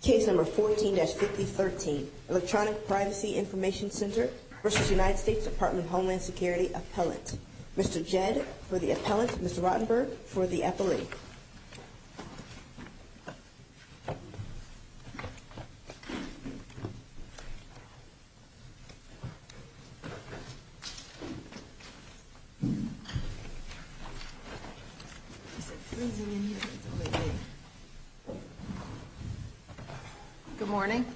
Case No. 14-5013, Electronic Privacy Information Center v. United States Department of Homeland Security Appellant. Mr. Jed for the appellant, Mr. Rottenberg for the appellee. Good morning.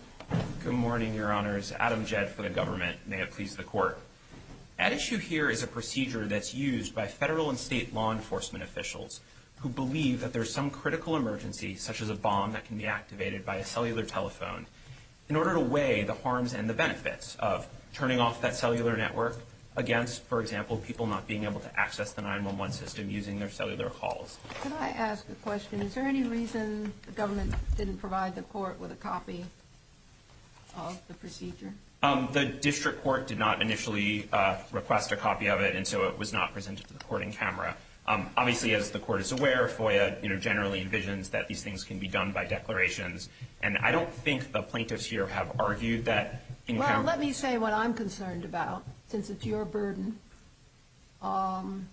Good morning, Your Honors. Adam Jed for the government. May it please the Court. At issue here is a procedure that's used by federal and state law enforcement officials who believe that there's some critical emergency, such as a bomb that can be activated by a cellular telephone, in order to weigh the harms and the benefits of turning off that cellular network against, for example, people not being able to access the 911 system using their cellular calls. Could I ask a question? Is there any reason the government didn't provide the Court with a copy of the procedure? The district court did not initially request a copy of it, and so it was not presented to the Court in camera. Obviously, as the Court is aware, FOIA generally envisions that these things can be done by declarations, and I don't think the plaintiffs here have argued that in camera. Well, let me say what I'm concerned about, since it's your burden. In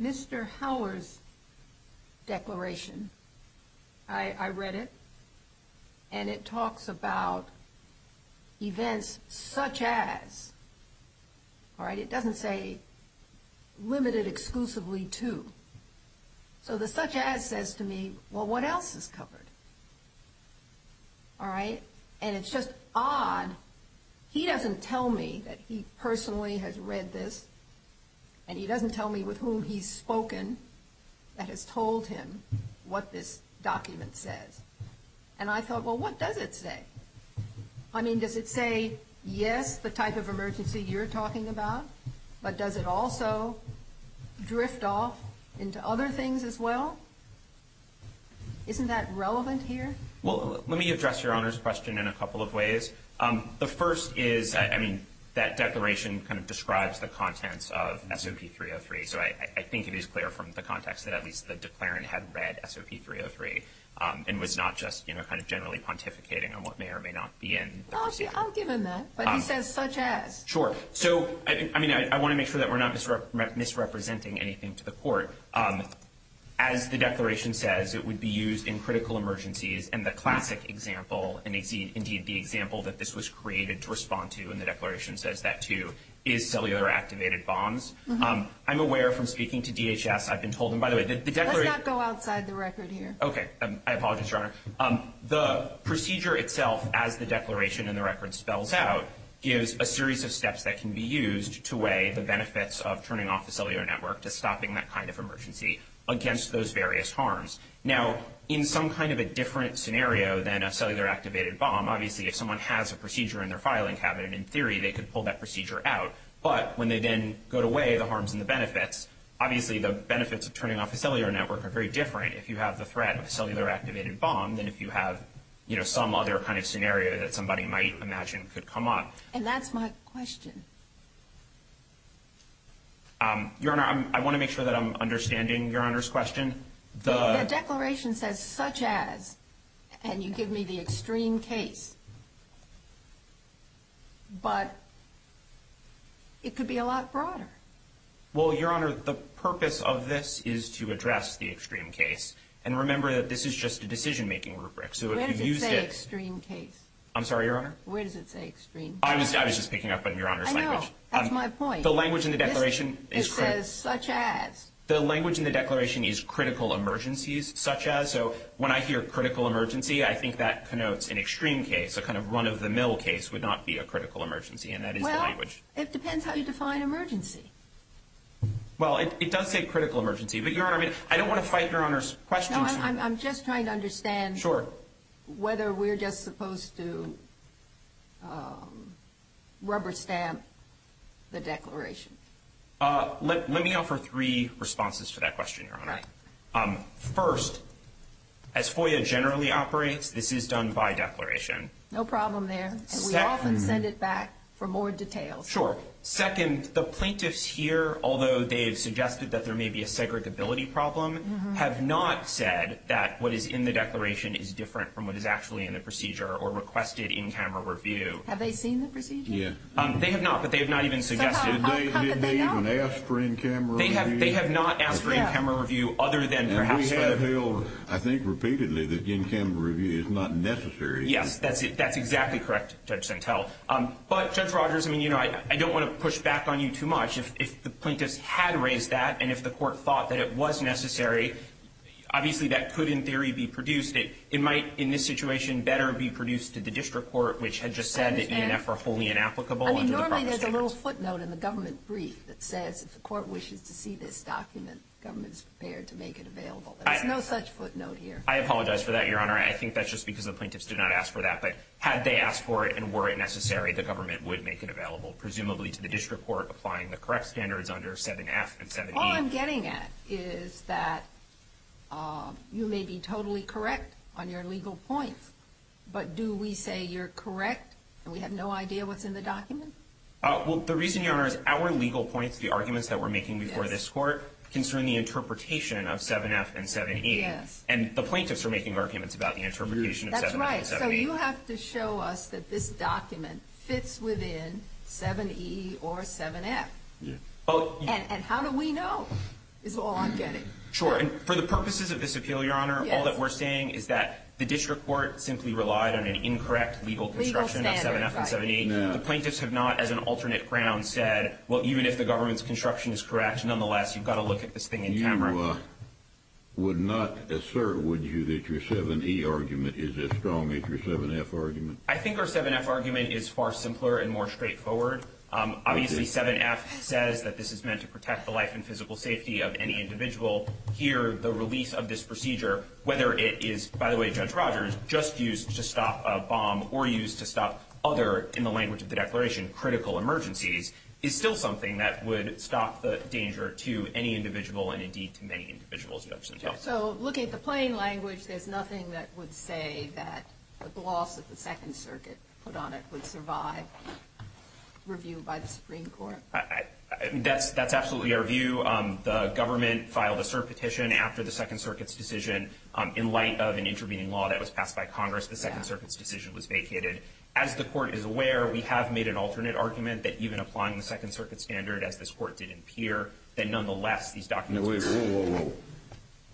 Mr. Howler's declaration, I read it, and it talks about events such as, all right? It doesn't say limited exclusively to. So the such as says to me, well, what else is covered? All right? And it's just odd. He doesn't tell me that he personally has read this, and he doesn't tell me with whom he's spoken that has told him what this document says. And I thought, well, what does it say? I mean, does it say, yes, the type of emergency you're talking about, but does it also drift off into other things as well? Isn't that relevant here? Well, let me address Your Honor's question in a couple of ways. The first is, I mean, that declaration kind of describes the contents of SOP 303, so I think it is clear from the context that at least the declarant had read SOP 303 and was not just, you know, kind of generally pontificating on what may or may not be in the proceeding. I'll give him that, but he says such as. Sure. So, I mean, I want to make sure that we're not misrepresenting anything to the Court. As the declaration says, it would be used in critical emergencies, and the classic example, and indeed the example that this was created to respond to, and the declaration says that too, is cellular-activated bombs. I'm aware from speaking to DHS I've been told, and by the way, the declaration— Let's not go outside the record here. Okay. I apologize, Your Honor. The procedure itself, as the declaration in the record spells out, gives a series of steps that can be used to weigh the benefits of turning off the cellular network to stopping that kind of emergency against those various harms. Now, in some kind of a different scenario than a cellular-activated bomb, obviously if someone has a procedure in their filing cabinet, in theory they could pull that procedure out, but when they then go to weigh the harms and the benefits, obviously the benefits of turning off a cellular network are very different if you have the threat of a cellular-activated bomb than if you have, you know, some other kind of scenario that somebody might imagine could come up. And that's my question. Your Honor, I want to make sure that I'm understanding Your Honor's question. The declaration says such as, and you give me the extreme case, but it could be a lot broader. Well, Your Honor, the purpose of this is to address the extreme case, and remember that this is just a decision-making rubric, so if you used it— Where does it say extreme case? I'm sorry, Your Honor? Where does it say extreme case? I was just picking up on Your Honor's language. I know. That's my point. The language in the declaration is— It says such as. The language in the declaration is critical emergencies, such as, so when I hear critical emergency, I think that connotes an extreme case, a kind of run-of-the-mill case would not be a critical emergency, and that is the language. Well, it depends how you define emergency. Well, it does say critical emergency, but Your Honor, I mean, I don't want to fight Your Honor's question. I'm just trying to understand whether we're just supposed to rubber stamp the declaration. Let me offer three responses to that question, Your Honor. First, as FOIA generally operates, this is done by declaration. No problem there, and we often send it back for more details. Sure. Second, the plaintiffs here, although they have suggested that there may be a segregability problem, have not said that what is in the declaration is different from what is actually in the procedure or requested in-camera review. Have they seen the procedure? Yeah. They have not, but they have not even suggested it. So how could they not? Did they even ask for in-camera review? They have not asked for in-camera review other than perhaps saying— And we have held, I think repeatedly, that in-camera review is not necessary. Yes, that's exactly correct, Judge Santel. But, Judge Rogers, I mean, you know, I don't want to push back on you too much. If the plaintiffs had raised that and if the court thought that it was necessary, obviously that could, in theory, be produced. It might, in this situation, better be produced to the district court, which had just said that E and F are wholly inapplicable under the proper standards. I mean, normally there's a little footnote in the government brief that says if the court wishes to see this document, government is prepared to make it available. There's no such footnote here. I apologize for that, Your Honor. I think that's just because the plaintiffs did not ask for that. But had they asked for it and were it necessary, the government would make it available, presumably to the district court, applying the correct standards under 7F and 7E. All I'm getting at is that you may be totally correct on your legal points. But do we say you're correct and we have no idea what's in the document? Well, the reason, Your Honor, is our legal points, the arguments that we're making before this court, concern the interpretation of 7F and 7E. Yes. And the plaintiffs are making arguments about the interpretation of 7F and 7E. That's right. So you have to show us that this document fits within 7E or 7F. And how do we know is all I'm getting. Sure. And for the purposes of this appeal, Your Honor, all that we're saying is that the district court simply relied on an incorrect legal construction of 7F and 7E. The plaintiffs have not, as an alternate ground, said, well, even if the government's construction is correct, nonetheless, you've got to look at this thing in camera. I would not assert, would you, that your 7E argument is as strong as your 7F argument. I think our 7F argument is far simpler and more straightforward. Obviously, 7F says that this is meant to protect the life and physical safety of any individual. Here, the release of this procedure, whether it is, by the way, Judge Rogers, just used to stop a bomb or used to stop other, in the language of the declaration, critical emergencies, is still something that would stop the danger to any individual and, indeed, to many individuals. So, looking at the plain language, there's nothing that would say that the gloss that the Second Circuit put on it would survive review by the Supreme Court? That's absolutely our view. The government filed a cert petition after the Second Circuit's decision. In light of an intervening law that was passed by Congress, the Second Circuit's decision was vacated. As the court is aware, we have made an alternate argument that even applying the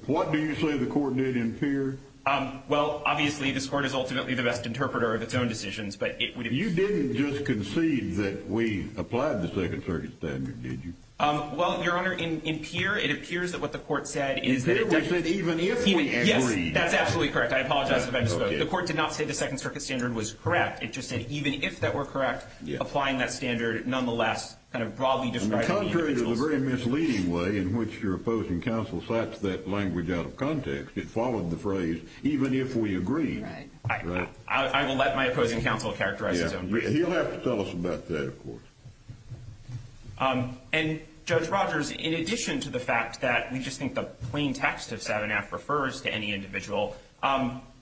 What do you say the court did in Peer? Well, obviously, this court is ultimately the best interpreter of its own decisions. You didn't just concede that we applied the Second Circuit's standard, did you? Well, Your Honor, in Peer, it appears that what the court said is that it doesn't Even if we agree. Yes, that's absolutely correct. I apologize if I misspoke. The court did not say the Second Circuit's standard was correct. It just said even if that were correct, applying that standard, nonetheless, kind of broadly describing the individual's It's a very misleading way in which your opposing counsel cites that language out of context. It followed the phrase even if we agree. Right. I will let my opposing counsel characterize his own view. He'll have to tell us about that, of course. And, Judge Rogers, in addition to the fact that we just think the plain text of 7F refers to any individual,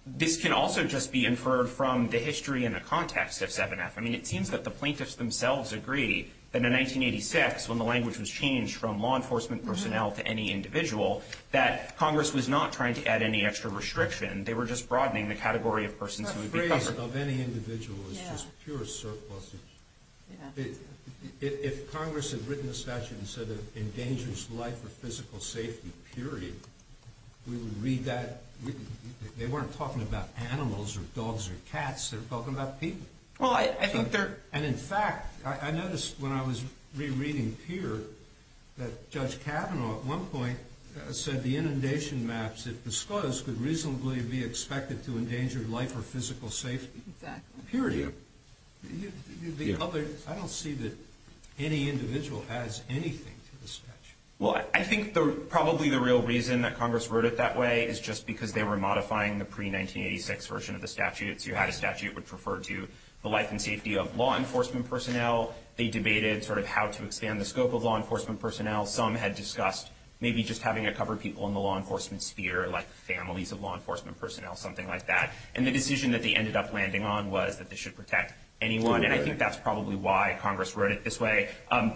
this can also just be inferred from the history and the context of 7F. I mean, it seems that the plaintiffs themselves agree that in 1986, when the language was changed from law enforcement personnel to any individual, that Congress was not trying to add any extra restriction. They were just broadening the category of persons who would be covered. The phrase of any individual is just pure surpluses. Yeah. If Congress had written a statute and said it endangers life or physical safety, period, we would read that. They weren't talking about animals or dogs or cats. They were talking about people. And, in fact, I noticed when I was rereading Peer that Judge Kavanaugh at one point said the inundation maps, if disclosed, could reasonably be expected to endanger life or physical safety. Exactly. Period. I don't see that any individual adds anything to the statute. Well, I think probably the real reason that Congress wrote it that way is just because they were modifying the pre-1986 version of the statute. So you had a statute which referred to the life and safety of law enforcement personnel. They debated sort of how to expand the scope of law enforcement personnel. Some had discussed maybe just having it cover people in the law enforcement sphere, like families of law enforcement personnel, something like that. And the decision that they ended up landing on was that they should protect anyone. And I think that's probably why Congress wrote it this way. I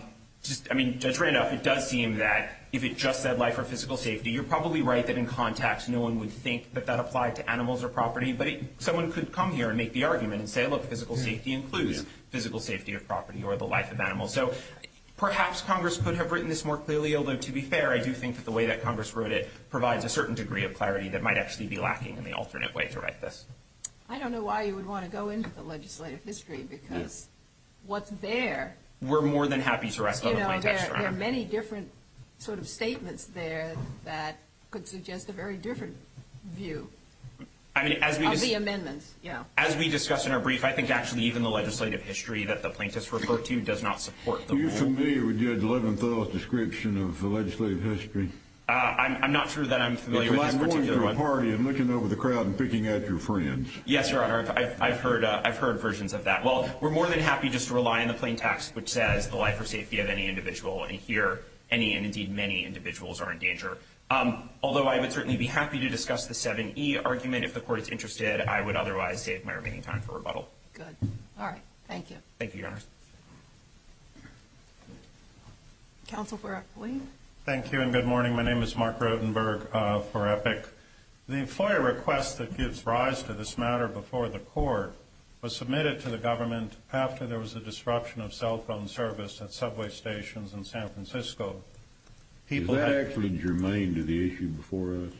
mean, Judge Randolph, it does seem that if it just said life or physical safety, you're probably right that in context no one would think that that applied to animals or property. But someone could come here and make the argument and say, look, physical safety includes physical safety of property or the life of animals. So perhaps Congress could have written this more clearly. Although, to be fair, I do think that the way that Congress wrote it provides a certain degree of clarity that might actually be lacking in the alternate way to write this. I don't know why you would want to go into the legislative history because what's there. We're more than happy to wrestle the plaintiffs around. You know, there are many different sort of statements there that could suggest a very different view. Of the amendments, yeah. As we discussed in our brief, I think actually even the legislative history that the plaintiffs refer to does not support the rule. Are you familiar with Judge Leventhal's description of the legislative history? I'm not sure that I'm familiar with this particular one. It's like going to a party and looking over the crowd and picking at your friends. Yes, Your Honor. I've heard versions of that. Well, we're more than happy just to rely on the plain text which says the life or safety of any individual. And here, any and indeed many individuals are in danger. Although I would certainly be happy to discuss the 7E argument if the court is interested. I would otherwise save my remaining time for rebuttal. Good. All right. Thank you. Thank you, Your Honor. Counsel for Epic. Thank you and good morning. My name is Mark Rodenberg for Epic. The FOIA request that gives rise to this matter before the court was submitted to the government after there was a disruption of cell phone service at subway stations in San Francisco. Is that actually germane to the issue before us?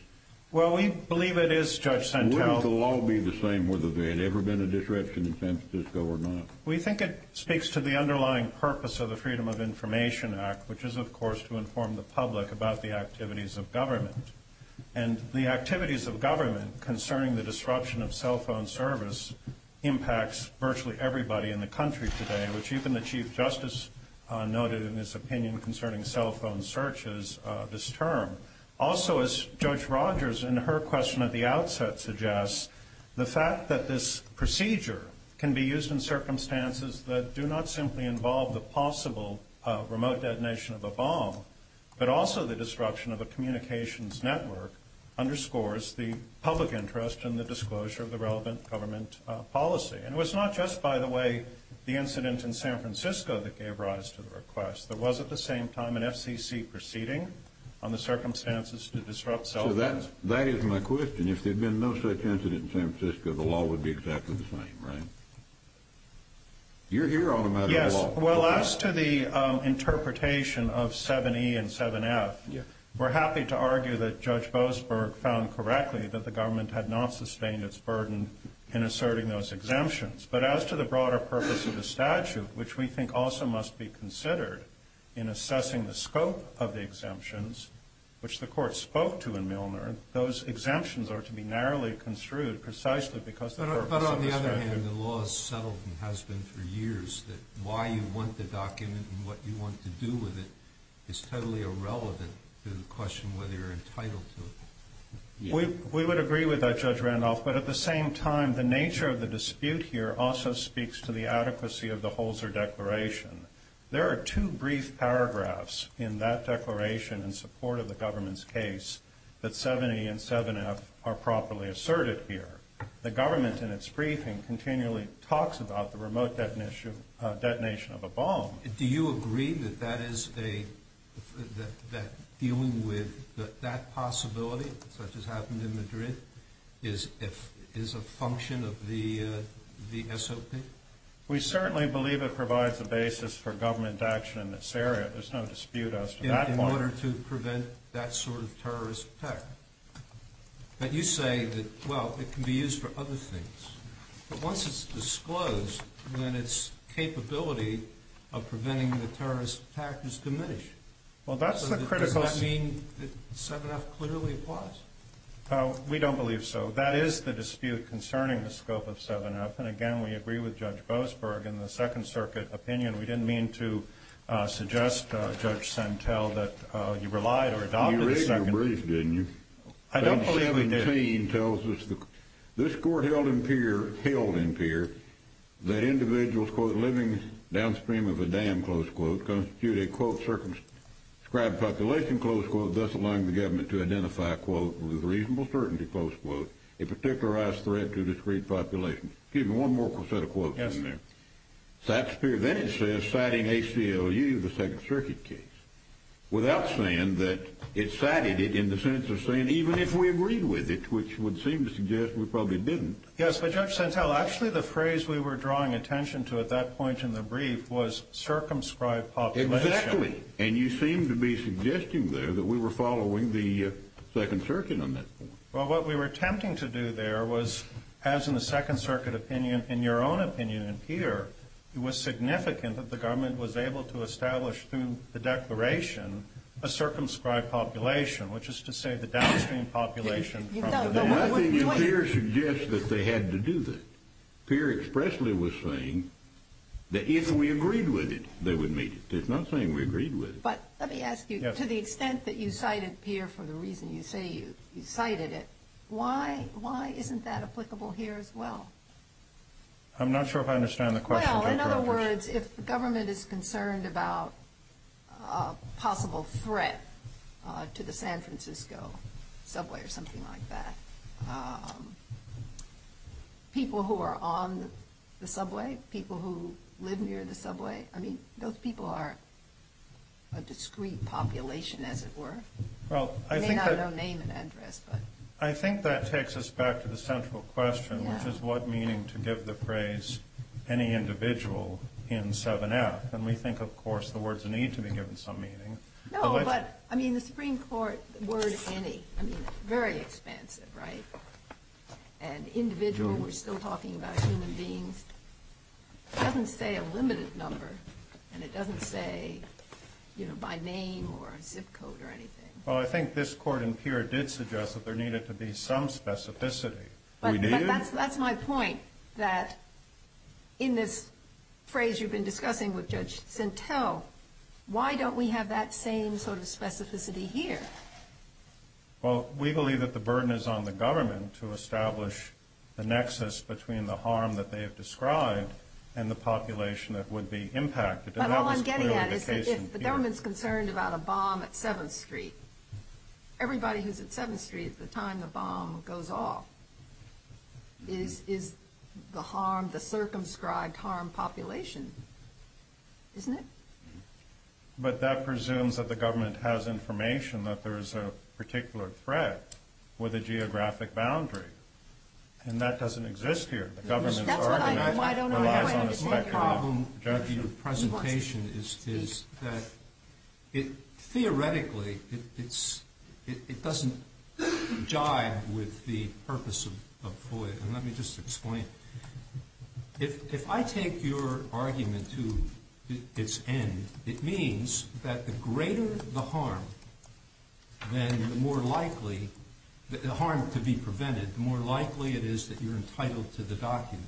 Well, we believe it is, Judge Santel. Wouldn't the law be the same whether there had ever been a disruption in San Francisco or not? We think it speaks to the underlying purpose of the Freedom of Information Act, which is, of course, to inform the public about the activities of government. And the activities of government concerning the disruption of cell phone service impacts virtually everybody in the country today, which even the Chief Attorney General of the U.S. has said that there is no need for a disruption of cell phone services this term. Also, as Judge Rogers, in her question at the outset, suggests, the fact that this procedure can be used in circumstances that do not simply involve the possible remote detonation of a bomb, but also the disruption of a communications network, underscores the public interest in the disclosure of the relevant government policy. And it was not just, by the way, the incident in San Francisco that gave rise to the request. There was, at the same time, an FCC proceeding on the circumstances to disrupt cell phones. So that is my question. If there had been no such incident in San Francisco, the law would be exactly the same, right? You're here on a matter of law. Yes. Well, as to the interpretation of 7E and 7F, we're happy to argue that Judge Boasberg found correctly that the government had not sustained its burden in asserting those exemptions. But as to the broader purpose of the statute, which we think also must be considered in assessing the scope of the exemptions, which the court spoke to in Milner, those exemptions are to be narrowly construed precisely because the purpose of the statute. But on the other hand, the law is settled and has been for years that why you want the document and what you want to do with it is totally irrelevant to the question whether you're entitled to it. We would agree with that, Judge Randolph. But at the same time, the nature of the dispute here also speaks to the adequacy of the Holzer Declaration. There are two brief paragraphs in that declaration in support of the government's case that 7E and 7F are properly asserted here. The government, in its briefing, continually talks about the remote detonation of a bomb. Do you agree that dealing with that possibility, such as happened in Madrid, is a function of the SOP? We certainly believe it provides a basis for government action in this area. There's no dispute as to that part. In order to prevent that sort of terrorist attack. But you say that, well, it can be used for other things. But once it's disclosed, then its capability of preventing the terrorist attack is diminished. Well, that's the critical. Does that mean that 7F clearly applies? We don't believe so. That is the dispute concerning the scope of 7F. And again, we agree with Judge Boasberg. In the Second Circuit opinion, we didn't mean to suggest, Judge Sentel, that you relied or adopted the Second. You raised your brief, didn't you? I don't believe we did. This court held in Peer that individuals, quote, living downstream of a dam, close quote, constitute a, quote, circumscribed population, close quote, thus allowing the government to identify, quote, with reasonable certainty, close quote, a particularized threat to a discreet population. Excuse me, one more set of quotes in there. Then it says, citing ACLU, the Second Circuit case, without saying that it cited it in the sense of saying, even if we agreed with it, which would seem to suggest we probably didn't. Yes, but Judge Sentel, actually the phrase we were drawing attention to at that point in the brief was circumscribed population. Exactly. And you seem to be suggesting there that we were following the Second Circuit on that point. Well, what we were attempting to do there was, as in the Second Circuit opinion, in your own opinion in Peer, it was significant that the government was able to establish, through the declaration, a circumscribed population, which is to say the downstream population. I think in Peer it suggests that they had to do that. Peer expressly was saying that if we agreed with it, they would meet it. It's not saying we agreed with it. But let me ask you, to the extent that you cited Peer for the reason you say you cited it, why isn't that applicable here as well? I'm not sure if I understand the question. Well, in other words, if the government is concerned about a possible threat to the San Francisco subway or something like that, people who are on the subway, people who live near the subway, I mean, those people are a discrete population, as it were. They may not have no name and address, but. I think that takes us back to the central question, which is what meaning to give the phrase, any individual in 7F. And we think, of course, the words need to be given some meaning. No, but I mean, the Supreme Court word, any, I mean, very expensive, right? And individual, we're still talking about human beings. It doesn't say a limited number and it doesn't say, you know, by name or zip code or anything. Well, I think this court in Peer did suggest that there needed to be some specificity, but that's, that's my point that in this phrase you've been discussing with Judge Kavanaugh, that same sort of specificity here. Well, we believe that the burden is on the government to establish the nexus between the harm that they have described and the population that would be impacted. And that was clearly the case in Peer. But all I'm getting at is that if the government's concerned about a bomb at 7th Street, everybody who's at 7th Street at the time the bomb goes off is, is the harm, the circumscribed harm population, isn't it? But that presumes that the government has information that there is a particular threat with a geographic boundary. And that doesn't exist here. The government's argument relies on a speculative judgment. My problem with your presentation is, is that it theoretically, it's, it doesn't jive with the purpose of FOIA. And let me just explain. If I take your argument to its end, it means that the greater the harm, then the more likely, the harm to be prevented, the more likely it is that you're entitled to the document.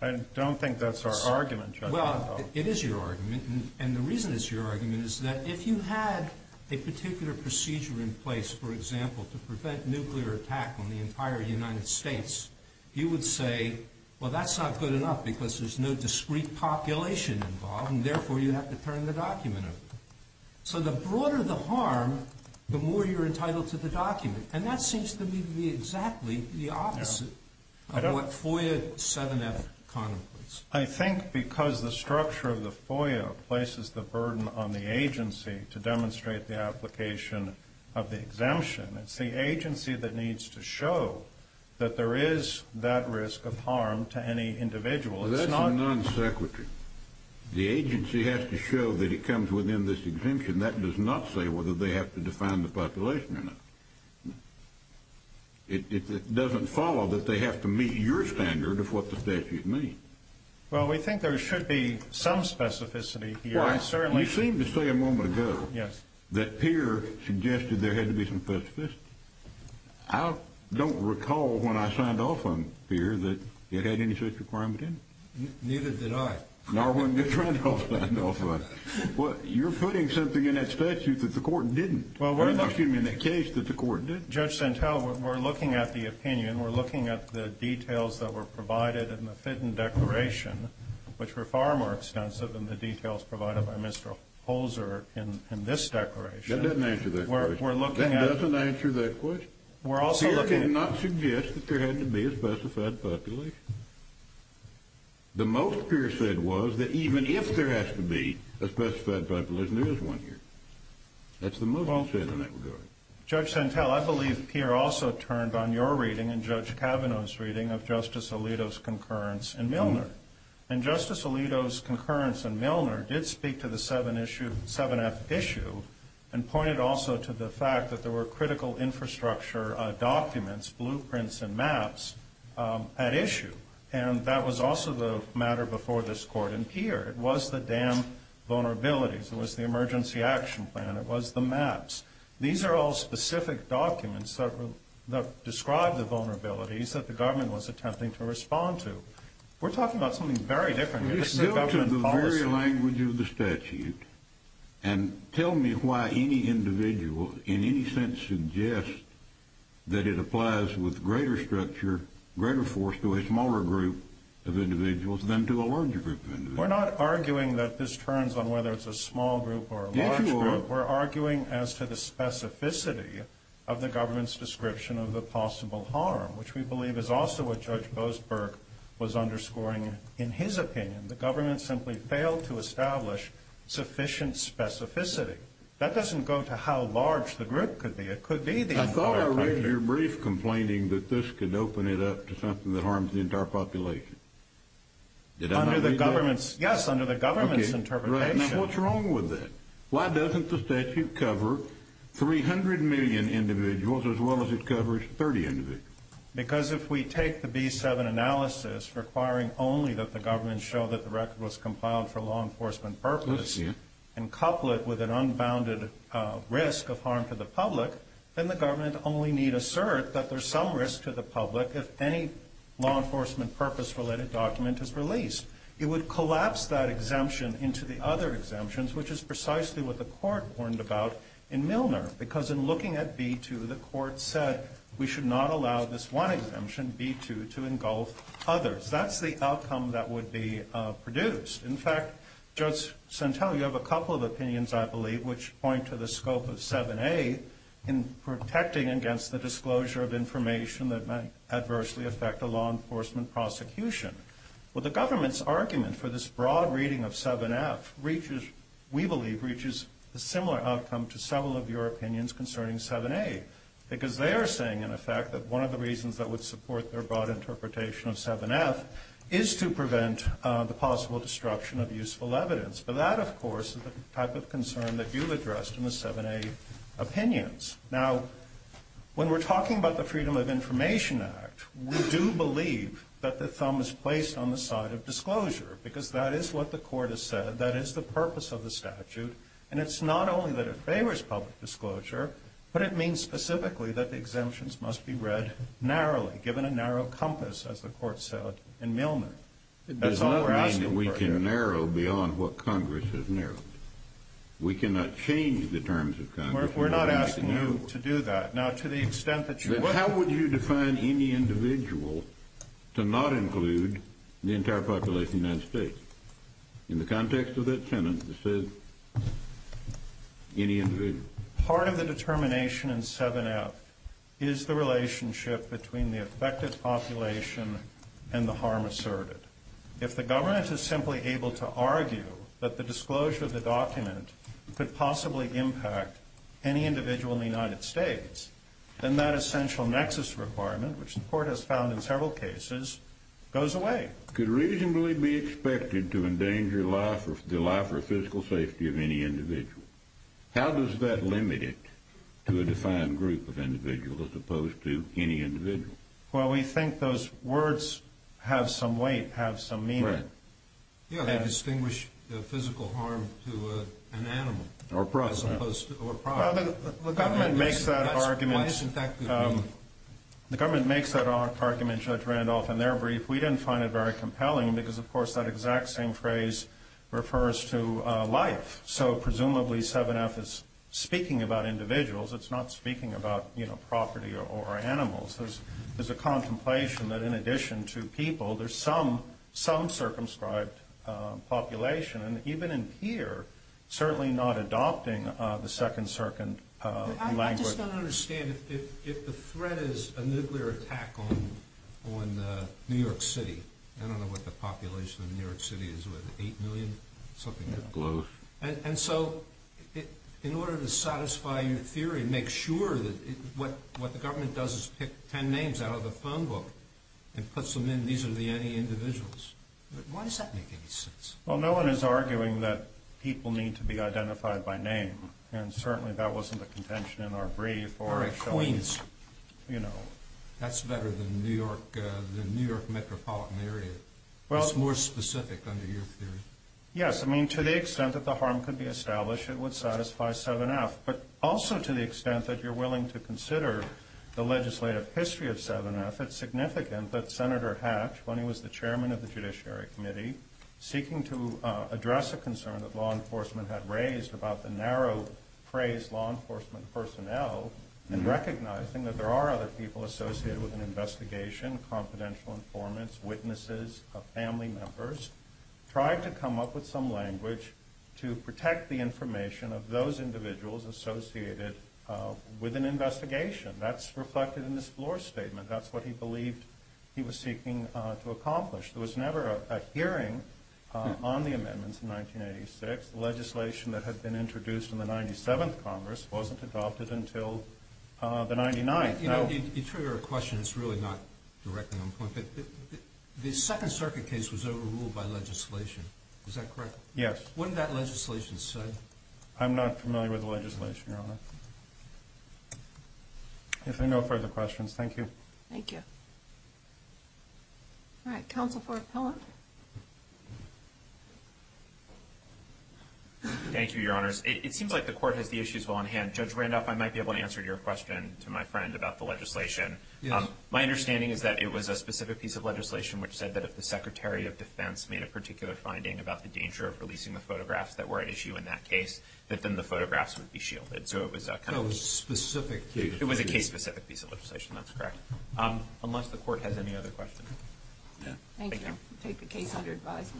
I don't think that's our argument. Well, it is your argument. And the reason it's your argument is that if you had a particular procedure in place, for example, to prevent nuclear attack on the entire United States, you would say, well, that's not good enough because there's no discrete population involved and therefore you have to turn the document over. So the broader the harm, the more you're entitled to the document. And that seems to me to be exactly the opposite of what FOIA 7F contemplates. I think because the structure of the FOIA places the burden on the agency to demonstrate the application of the exemption. It's the agency that needs to show that there is that risk of harm to any individual. Well, that's a non-sequitur. The agency has to show that it comes within this exemption. That does not say whether they have to define the population or not. It doesn't follow that they have to meet your standard of what the statute means. Well, we think there should be some specificity here. Well, I certainly. You seemed to say a moment ago. Yes. That Peer suggested there had to be some specificity. I don't recall when I signed off on Peer that it had any such requirement in it. Neither did I. Nor would Mr. Randolph. Well, you're putting something in that statute that the court didn't. Well, excuse me, in that case that the court didn't. Judge Santel, we're looking at the opinion. We're looking at the details that were provided in the Fitton Declaration, which were far more extensive than the details provided by Mr. Holzer in this declaration. That doesn't answer that question. We're looking at. That doesn't answer that question. We're also looking at. Peer did not suggest that there had to be a specified population. The most Peer said was that even if there has to be a specified population, there is one here. That's the most Peer said in that regard. Judge Santel, I believe Peer also turned on your reading and Judge Kavanaugh's reading of Justice Alito's concurrence in Milner. And Justice Alito's concurrence in Milner did speak to the seven issue, seven F issue and pointed also to the fact that there were critical infrastructure documents, blueprints and maps at issue. And that was also the matter before this court in Peer. It was the dam vulnerabilities. It was the emergency action plan. It was the maps. These are all specific documents that describe the vulnerabilities that the government was attempting to respond to. We're talking about something very different. This is a government policy. Let's go to the very language of the statute and tell me why any individual in any sense suggests that it applies with greater structure, greater force to a smaller group of individuals than to a larger group of individuals. We're not arguing that this turns on whether it's a small group or a large group. We're arguing as to the specificity of the government's description of the was underscoring. In his opinion, the government simply failed to establish sufficient specificity. That doesn't go to how large the group could be. It could be the, I thought I read your brief complaining that this could open it up to something that harms the entire population. Did I under the government's? Yes. Under the government's interpretation. What's wrong with that? Why doesn't the statute cover 300 million individuals as well as it covers 30 individuals? Because if we take the B seven analysis requiring only that the government show that the record was compiled for law enforcement purpose and couple it with an unbounded risk of harm to the public, then the government only need assert that there's some risk to the public. If any law enforcement purpose related document has released, it would collapse that exemption into the other exemptions, which is precisely what the court warned about in Milner. Because in looking at B2, the court said we should not allow this one exemption B2 to engulf others. That's the outcome that would be produced. In fact, just Centella, you have a couple of opinions, I believe, which point to the scope of seven, a in protecting against the disclosure of information that might adversely affect the law enforcement prosecution. Well, the government's argument for this broad reading of seven F reaches, we believe reaches a similar outcome to several of your opinions concerning seven a, because they are saying in effect that one of the reasons that would support their broad interpretation of seven F is to prevent the possible destruction of useful evidence. But that of course is the type of concern that you've addressed in the seven a opinions. Now when we're talking about the freedom of information act, we do believe that the thumb is placed on the side of disclosure because that is what the court has said. That is the purpose of the statute. And it's not only that it favors public disclosure, but it means specifically that the exemptions must be read narrowly given a narrow compass. As the court said in Millman, that's all we're asking that we can narrow beyond what Congress has narrowed. We cannot change the terms of Congress. We're not asking you to do that now to the extent that you, how would you define any individual to not include the entire population of the United States in the context of that tenant? Any individual part of the determination and seven F is the relationship between the affected population and the harm asserted. If the government is simply able to argue that the disclosure of the document could possibly impact any individual in the United States, then that essential nexus requirement, which the court has found in several cases goes away. Could reasonably be expected to endanger life or the life or physical safety of any individual. How does that limit it to a defined group of individuals as opposed to any individual? Well, we think those words have some weight, have some meaning. Yeah. Distinguish the physical harm to an animal or process. Well, the government makes that argument. The government makes that argument judge Randolph and they're brief. We didn't find it very compelling because of course that exact same phrase refers to a life. So presumably seven F is speaking about individuals. It's not speaking about property or animals. There's a contemplation that in addition to people, there's some, some circumscribed population and even in here, certainly not adopting the second circuit. I just don't understand if, if the threat is a nuclear attack on, on the New York city, I don't know what the population of New York city is with 8 million, something. And so in order to satisfy your theory, make sure that what, what the government does is pick 10 names out of the phone book and puts them in. These are the, any individuals. Why does that make any sense? Well, no one is arguing that people need to be identified by name. And certainly that wasn't a contention in our brief or a Queens, you know, that's better than New York, the New York metropolitan area. Well, it's more specific under your theory. Yes. I mean, to the extent that the harm could be established, it would satisfy seven F, but also to the extent that you're willing to consider the legislative history of seven F it's significant that Senator hatch, when he was the chairman of the judiciary committee seeking to address a phrase, law enforcement personnel and recognizing that there are other people associated with an investigation, confidential informants, witnesses, a family members, trying to come up with some language to protect the information of those individuals associated with an investigation that's reflected in this floor statement. That's what he believed he was seeking to accomplish. There was never a hearing on the amendments in 1986 legislation that had been introduced in the 97th. Congress wasn't adopted until the 99th. You know, you trigger a question. It's really not directly on point, but the second circuit case was overruled by legislation. Is that correct? Yes. When that legislation said, I'm not familiar with the legislation. You're on it. If there are no further questions, thank you. Thank you. All right. Counsel for appellant. Thank you, your honors. It seems like the court has the issues on hand. Judge Randolph, I might be able to answer your question to my friend about the legislation. My understanding is that it was a specific piece of legislation which said that if the secretary of defense made a particular finding about the danger of releasing the photographs that were at issue in that case, that then the photographs would be shielded. So it was kind of specific. It was a case specific piece of legislation. That's correct. Unless the court has any other questions. Yeah, thank you. We'll take the case under advisement.